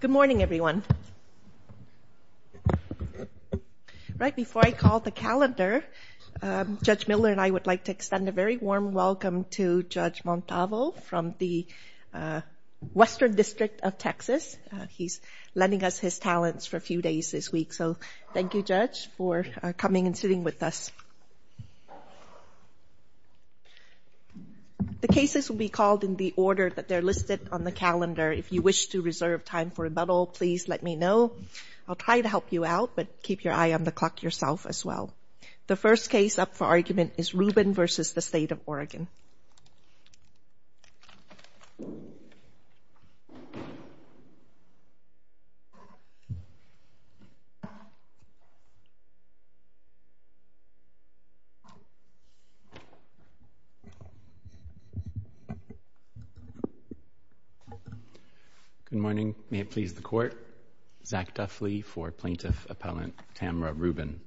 Good morning, everyone. Right before I call the calendar, Judge Miller and I would like to extend a very warm welcome to Judge Montalvo from the Western District of Texas. He's lending us his talents for a few days this week, so thank you, Judge, for coming and sitting with us. The cases will be called in the order that they're listed on the calendar. If you wish to reserve time for rebuttal, please let me know. I'll try to help you out, but keep your eye on the clock yourself as well. The first case up for argument is Rubin v. State of Oregon. Good morning. May it please the Court. Zach Duffley for Plaintiff Appellant Tamara Rubin.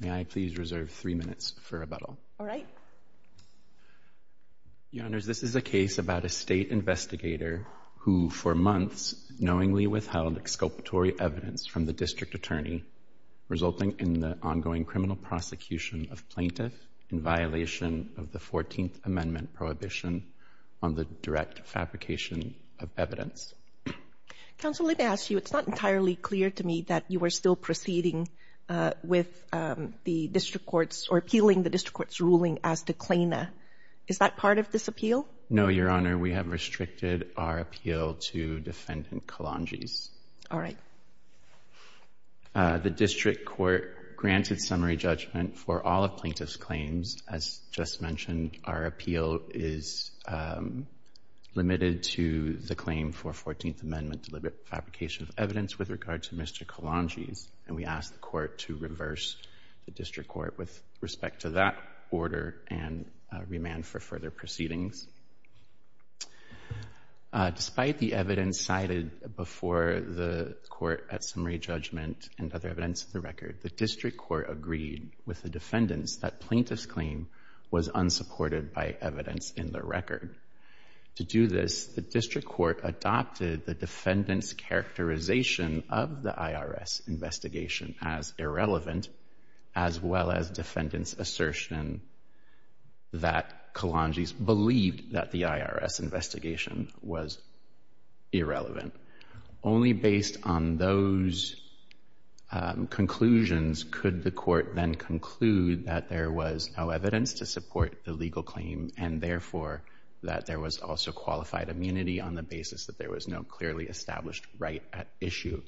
May I please reserve three minutes for rebuttal? All right. Your Honors, this is a case about a state investigator who, for months, knowingly withheld exculpatory evidence from the district attorney, resulting in the ongoing criminal prosecution of plaintiff in violation of the 14th Amendment prohibition on the direct fabrication of evidence. Counsel, let me ask you, it's not entirely clear to me that you are still proceeding with the district courts or appealing the district court's ruling as declaina. Is that part of this appeal? No, Your Honor, we have The district court granted summary judgment for all of plaintiff's claims. As just mentioned, our appeal is limited to the claim for 14th Amendment deliberate fabrication of evidence with regard to Mr. Kalonji's, and we ask the court to reverse the district court with respect to that order and remand for further proceedings. Despite the evidence cited before the court at and other events of the record, the district court agreed with the defendants that plaintiff's claim was unsupported by evidence in the record. To do this, the district court adopted the defendant's characterization of the IRS investigation as irrelevant, as well as defendant's assertion that Kalonji's believed that the IRS investigation was irrelevant. Only based on those conclusions could the court then conclude that there was no evidence to support the legal claim and therefore that there was also qualified immunity on the basis that there was no clearly established right at issue.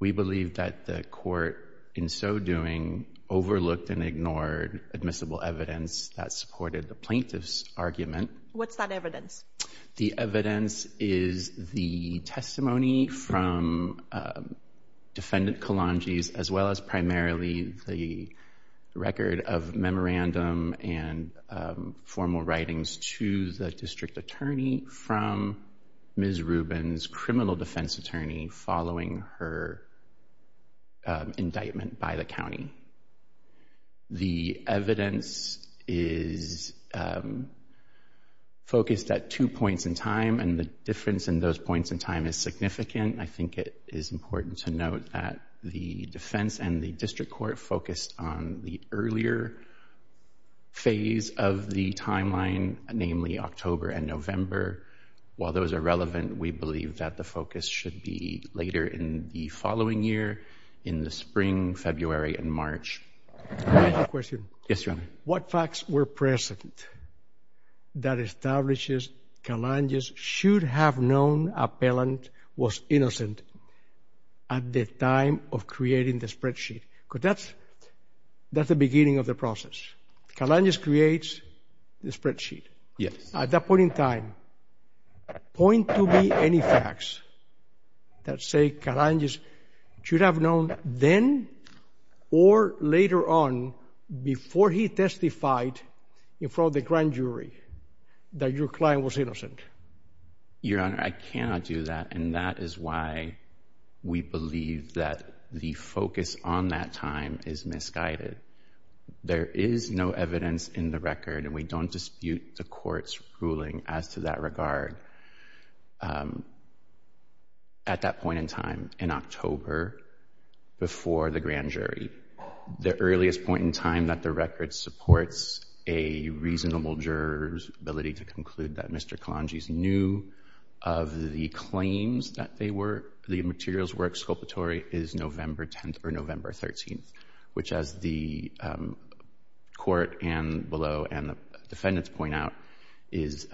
We believe that the court in so doing overlooked and ignored admissible evidence that supported the plaintiff's argument. What's that evidence? The evidence is the testimony from defendant Kalonji's, as well as primarily the record of memorandum and formal writings to the district attorney from Ms. Rubin's criminal defense attorney following her indictment by the county. The evidence is focused at two points in time, and the difference in those points in time is significant. I think it is important to note that the defense and the district court focused on the earlier phase of the timeline, namely October and November. While those are relevant, we believe that the focus should be later in the following year, in the spring, February and March. Yes, Your Honor. What facts were present that establishes Kalonji's should have known appellant was innocent at the time of creating the spreadsheet? Because that's the beginning of the process. Kalonji's creates the spreadsheet. Yes. At that point in time, point to me any facts that say Kalonji's should have known then or later on before he testified in front of the grand jury that your client was innocent. Your Honor, I cannot do that, and that is why we believe that the focus on that time is misguided. There is no evidence in the record, and we don't at that point in time in October before the grand jury. The earliest point in time that the record supports a reasonable juror's ability to conclude that Mr. Kalonji's knew of the claims that they were the materials were exculpatory is November 10th or November 13th, which as the court and the defendants point out, is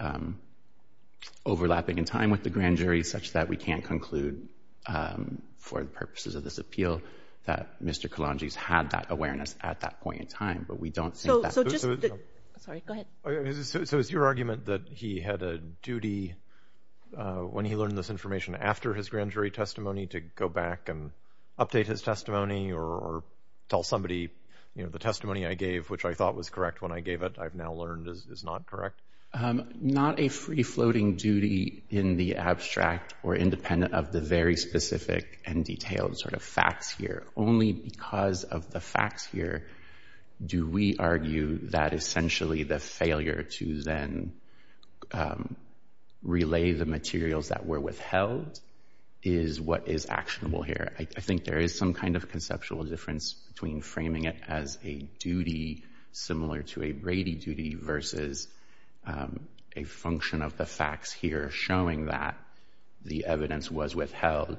overlapping in time with the grand jury such that we can't conclude for the purposes of this appeal that Mr. Kalonji's had that awareness at that point in time, but we don't think that... Sorry, go ahead. So it's your argument that he had a duty when he learned this information after his grand jury testimony to go back and update his testimony or tell somebody, you know, the testimony I gave, which I thought was correct when I gave it, I've now learned is not correct? Not a free-floating duty in the abstract or independent of the very specific and detailed sort of facts here. Only because of the facts here do we argue that essentially the failure to then relay the materials that were withheld is what is actionable here. I think there is some kind of conceptual difference between framing it as a duty similar to a Brady duty versus a function of the facts here showing that the evidence was withheld,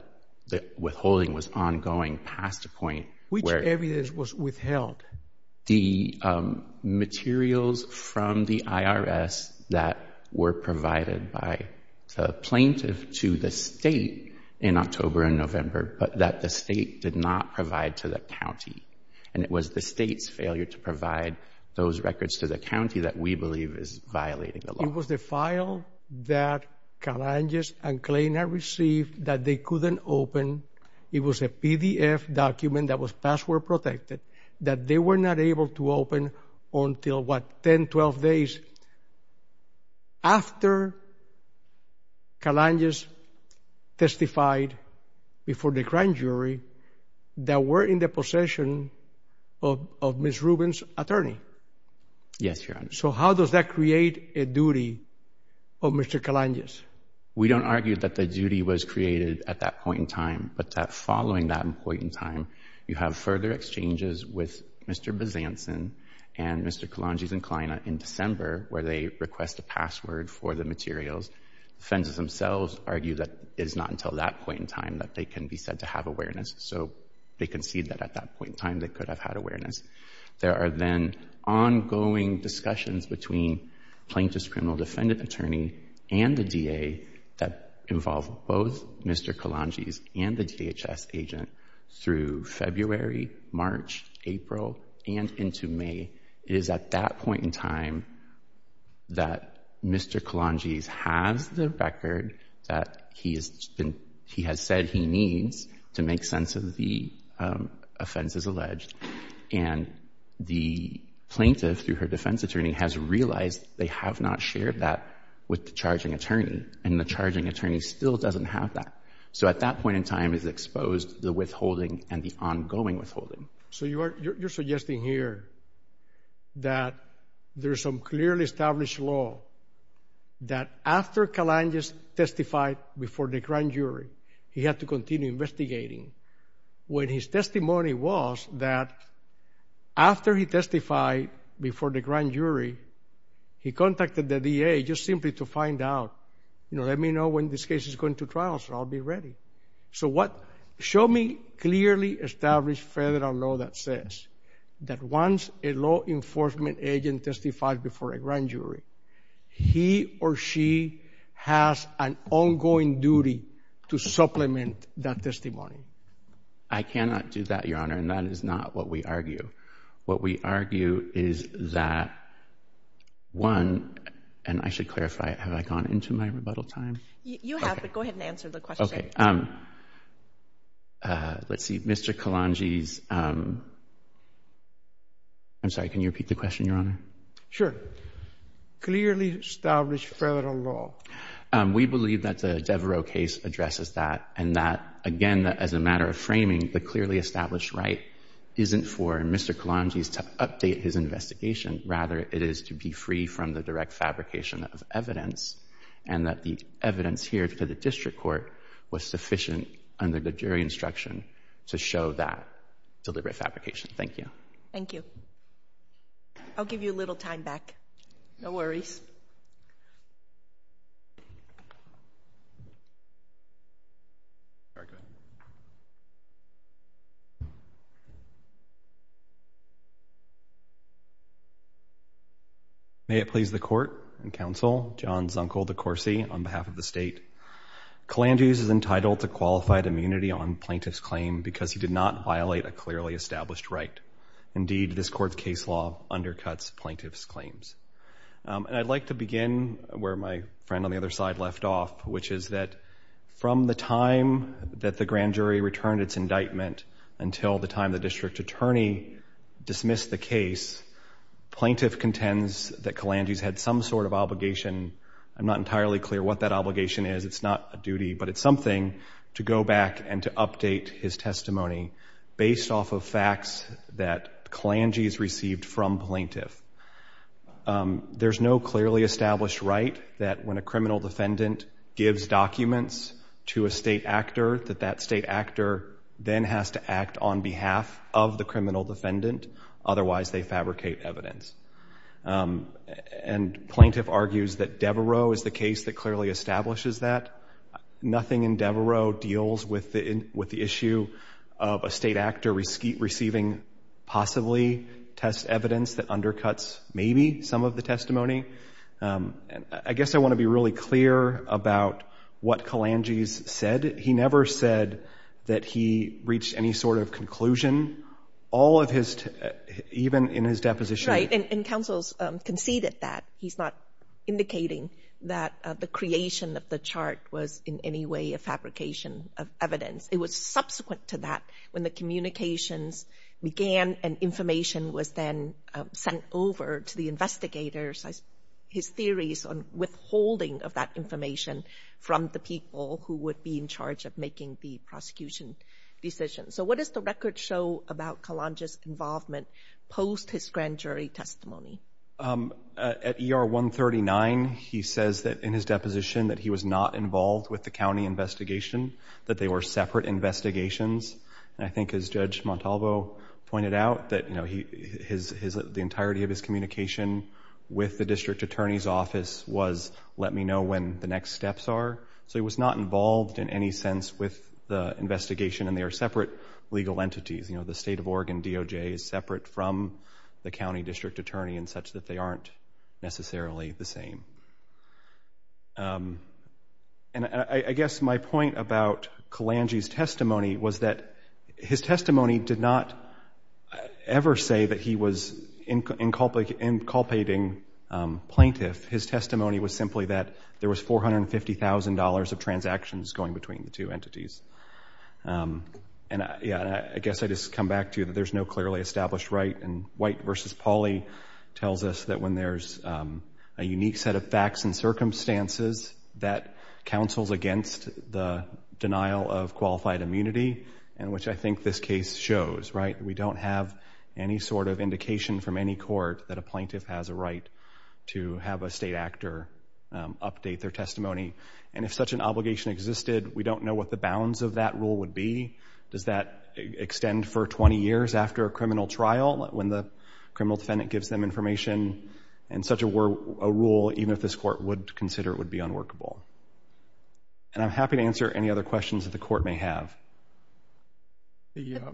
that withholding was ongoing past a point where... Which evidence was withheld? The materials from the IRS that were provided by the plaintiff to the state in October and November, but that the state did not provide to the county. And it was the state's failure to provide those records to the county that we believe is violating the law. It was the file that Kalonji's and Klainer received that they couldn't open. It was a PDF document that was password protected that they were not able to open until, what, 10, 12 days after Kalonji's testified before the grand jury that we're in the possession of Ms. Rubin's attorney. Yes, Your Honor. So how does that create a duty of Mr. Kalonji's? We don't argue that the duty was created at that point in time, but that following that point in time, you have further exchanges with Mr. Bezanson and Mr. Kalonji's and Klainer in December where they request a password for the materials. Defenses themselves argue that it's not until that point in time that they can be said to have awareness. So they concede that at that point in time they could have had awareness. There are then ongoing discussions between plaintiff's defendant attorney and the DA that involve both Mr. Kalonji's and the DHS agent through February, March, April, and into May. It is at that point in time that Mr. Kalonji's has the record that he has said he needs to make sense of the offenses alleged. And the plaintiff, through her defense attorney, has realized they have not shared that with the charging attorney, and the charging attorney still doesn't have that. So at that point in time is exposed the withholding and the ongoing withholding. So you're suggesting here that there's some clearly established law that after Kalonji's testified before the grand jury, he had to continue investigating when his testimony was that after he testified before the grand jury, he contacted the DA just simply to find out, you know, let me know when this case is going to trial so I'll be ready. So what show me clearly established federal law that says that once a law enforcement agent testifies before a grand jury, he or she has an ongoing duty to supplement that testimony. I cannot do that, Your Honor, and that is not what we argue. What we argue is that, one, and I should clarify, have I gone into my rebuttal time? You have, but go ahead and answer the question. Okay. Let's see, Mr. Kalonji's, I'm sorry, can you repeat the question, Your Honor? Sure. Clearly established federal law. We believe that the Devereux case addresses that, and that, again, as a matter of framing, the clearly established right isn't for Mr. Kalonji's to update his investigation. Rather, it is to be free from the direct fabrication of evidence, and that the evidence here to the district court was sufficient under the jury instruction to show that deliberate fabrication. Thank you. Thank you. I'll give you a little time back. No worries. May it please the court and counsel, John Zunkel, de Corsi, on behalf of the state. Kalonji's is entitled to qualified immunity on plaintiff's claim because he did not violate a clearly established right. Indeed, this court's case law undercuts plaintiff's claims. I'd like to begin where my friend on the other side left off, which is that from the time that the grand jury returned its indictment until the time the district attorney dismissed the case, plaintiff contends that Kalonji's had some sort of obligation. I'm not entirely clear what that obligation is. It's not a duty, but it's something to go back and to update his testimony based off of facts that Kalonji's received from plaintiff. There's no clearly established right that when a criminal defendant gives documents to a state actor, that that state actor then has to act on behalf of the criminal defendant, otherwise they fabricate evidence. And plaintiff argues that Devereaux is the case that clearly establishes that. Nothing in Devereaux deals with the issue of a state actor receiving possibly test evidence that undercuts maybe some of the testimony. I guess I want to be really clear about what Kalonji's said. He never said that he reached any sort of conclusion. All of his, even in his deposition. Right. And counsel's conceded that. He's not indicating that the creation of the chart was in any way a fabrication of evidence. It was subsequent to that when the communications began and information was then sent over to the investigators. His theories on withholding of that information from the people who would be in charge of making the prosecution decision. So what does the record show about Kalonji's involvement post his grand jury testimony? At ER 139, he says that in his deposition that he was not involved with the county investigation, that they were separate investigations. And I think as Judge Montalvo pointed out, that the entirety of his communication with the district attorney's office was, let me know when the next steps are. So he was not involved in any sense with the investigation and they are separate legal entities. You know, the state of Oregon DOJ is separate from the county district attorney in such that they aren't necessarily the same. And I guess my point about Kalonji's testimony was that his testimony did not ever address that he was inculpating plaintiff. His testimony was simply that there was $450,000 of transactions going between the two entities. And I guess I just come back to that there's no clearly established right and White v. Pauley tells us that when there's a unique set of facts and circumstances that counsels against the denial of qualified immunity, and which I think this case shows, right, we don't have any sort of indication from any court that a plaintiff has a right to have a state actor update their testimony. And if such an obligation existed we don't know what the bounds of that rule would be. Does that extend for 20 years after a criminal trial when the criminal defendant gives them information and such a rule even if this court would consider it would be unworkable. And I'm happy to answer any other questions that the court may have. You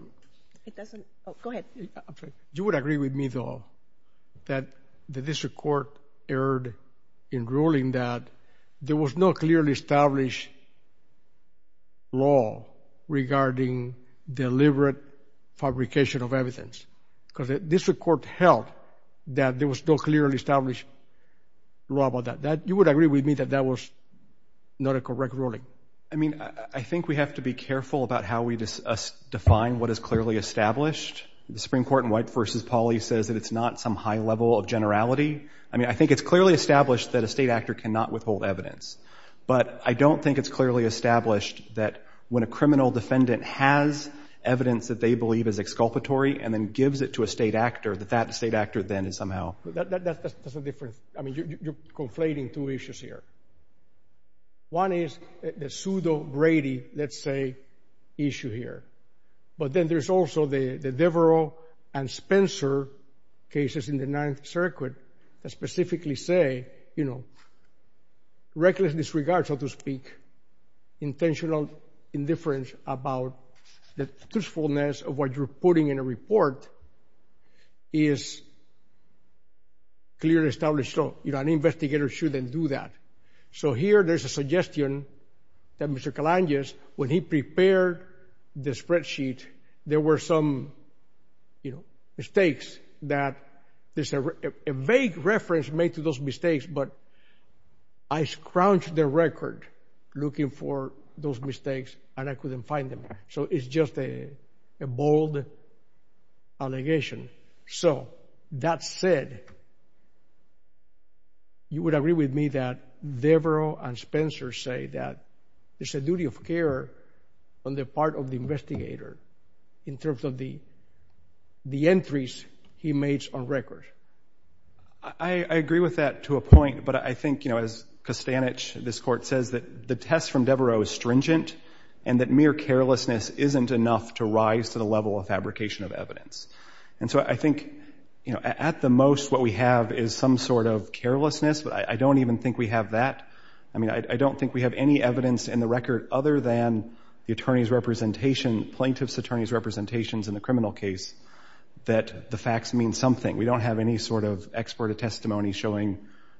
would agree with me though that this court erred in ruling that there was no clearly established law regarding deliberate fabrication of evidence. Because this court held that there was no clearly established law about that. You would agree with me that that was not a correct ruling? I mean, I think we have to be careful about how we define what is clearly established. The Supreme Court in White v. Pauley says that it's not some high level of generality. I mean, I think it's clearly established that a state actor cannot withhold evidence. But I don't think it's clearly established that when a criminal defendant has evidence that they believe is exculpatory and then gives it to a state actor that that state actor then is somehow... That's a different... I mean, you're conflating two issues here. One is the pseudo-Grady, let's say, issue here. But then there's also the Devereaux and Spencer cases in the Ninth Circuit that specifically say, you know, reckless disregard, so to speak, intentional indifference about the truthfulness of what you're putting in a report is clearly established law. You know, an investigator shouldn't do that. So here there's a suggestion that Mr. Kalandis, when he prepared the spreadsheet, there were some, you know, mistakes that there's a vague reference made to those mistakes, but I scrounged the record looking for those mistakes and I couldn't find them. So it's just a bold allegation. So that said, you would agree with me that Devereaux and Spencer say that it's a duty of care on the part of the investigator in terms of the entries he made on record. I agree with that to a point, but I think, you know, as Kostanich, this Court, says that the test from Devereaux is stringent and that mere carelessness isn't enough to rise to the level of fabrication of evidence. And so I think, you know, at the most what we have is some sort of carelessness, but I don't even think we have that. I mean, I don't think we have any evidence in the record other than the attorney's representation, plaintiff's attorney's representations in the criminal case that the facts mean something. We don't have any sort of expert testimony showing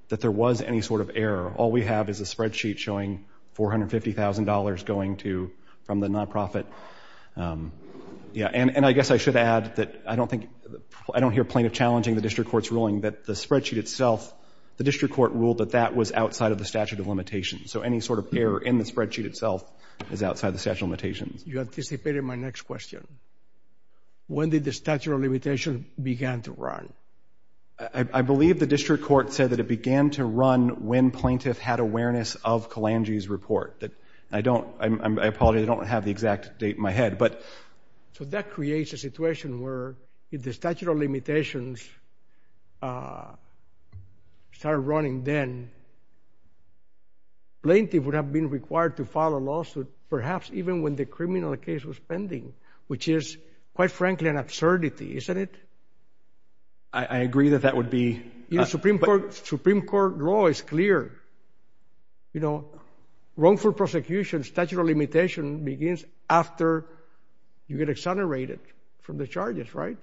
that there was any sort of error. All we have is a spreadsheet showing $450,000 going to, from the nonprofit. Yeah, and I guess I should add that I don't think, I don't hear plaintiff challenging the district court's ruling that the spreadsheet itself, the district court ruled that that was outside of the statute of limitations. So any sort of error in the spreadsheet itself is outside the statute of limitations. You anticipated my next question. When did the statute of limitations begin to run? I believe the district court said that it began to run when plaintiff had awareness of Kalanji's report. I don't, I apologize, I don't have the exact date in my head, but... So that creates a situation where if the statute of limitations started running then, plaintiff would have been required to file a lawsuit, perhaps even when the criminal case was pending, which is, quite frankly, an absurdity, isn't it? I agree that that would be... You know, Supreme Court law is clear. You know, wrongful prosecution, statute of limitation begins after you get exonerated from the charges, right?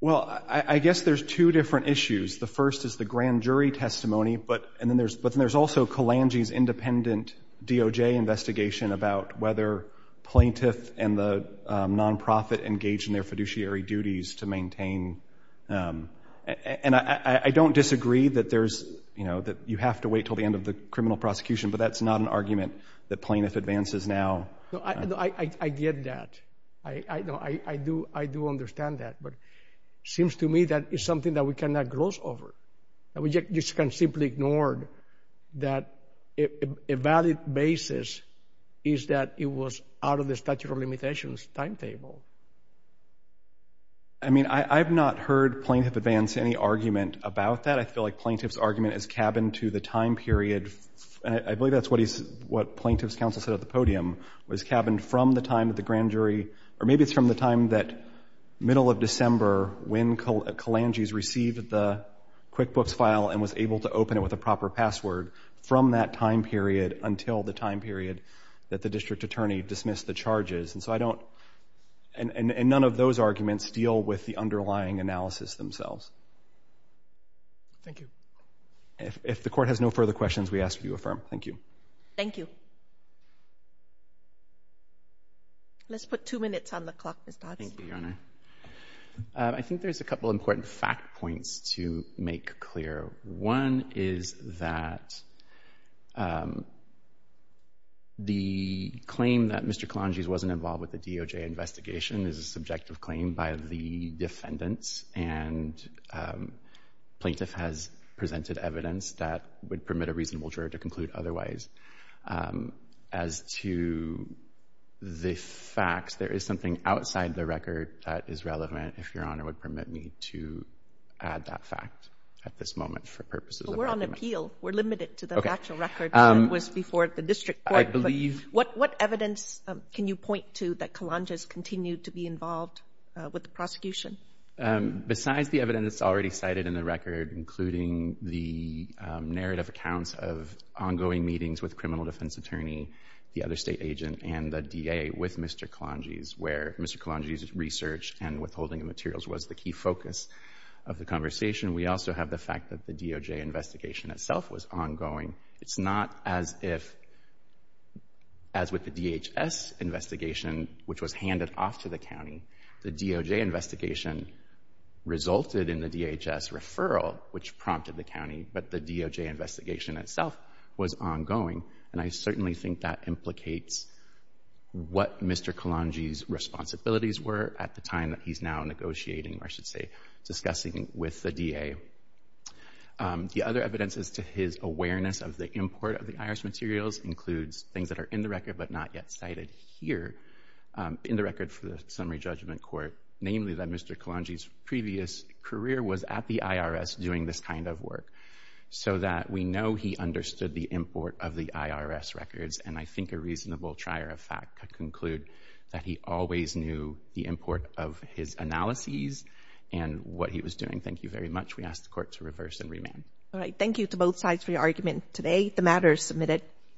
Well, I guess there's two different issues. The first is the grand jury testimony, but then there's also Kalanji's independent DOJ investigation about whether plaintiff and the non-profit engaged in their fiduciary duties to maintain... And I don't disagree that there's, you know, that you have to wait until the end of the criminal prosecution, but that's not an argument that plaintiff advances now. No, I get that. I do understand that, but it seems to me that it's something that we cannot gloss over. And we just can't simply ignore that a valid basis is that it was out of the statute of limitations timetable. I mean, I've not heard plaintiff advance any argument about that. I feel like plaintiff's argument is cabined to the time period, and I believe that's what plaintiff's counsel said at the podium, was cabined from the time of the grand jury, or maybe it's from the time that middle of December, when Kalanji's received the QuickBooks file and was able to open it with a proper password, from that time period until the time period that the charge is. And so I don't... And none of those arguments deal with the underlying analysis themselves. Thank you. If the court has no further questions, we ask that you affirm. Thank you. Thank you. Let's put two minutes on the clock, Ms. Dodds. Thank you, Your Honor. I think there's a couple of important fact points to make clear. One is that the claim that Mr. Kalanji wasn't involved with the DOJ investigation is a subjective claim by the defendants, and plaintiff has presented evidence that would permit a reasonable jury to conclude otherwise. As to the facts, there is something outside the record that is relevant, if Your Honor would permit me to add that fact at this moment for purposes of argument. Okay. So we're on appeal. We're limited to the actual record that was before the district court. I believe... What evidence can you point to that Kalanji's continued to be involved with the prosecution? Besides the evidence already cited in the record, including the narrative accounts of ongoing meetings with criminal defense attorney, the other state agent, and the DA with Mr. Kalanji's, where Mr. Kalanji's research and withholding of materials was the key focus of the conversation, we also have the fact that the DOJ investigation itself was ongoing. It's not as if, as with the DHS investigation, which was handed off to the county. The DOJ investigation resulted in the DHS referral, which prompted the county, but the DOJ investigation itself was ongoing, and I certainly think that implicates what Mr. Kalanji's responsibilities were at the time that he's now negotiating, or I should say, discussing with the DA. The other evidence is to his awareness of the import of the IRS materials includes things that are in the record, but not yet cited here in the record for the summary judgment court, namely that Mr. Kalanji's previous career was at the IRS doing this kind of work, so that we know he understood the import of the IRS records, and I think a reasonable trier of fact could conclude that he always knew the import of his analyses and what he was doing. Thank you very much. We ask the court to reverse and remand. All right. Thank you to both sides for your argument today. The matter is submitted.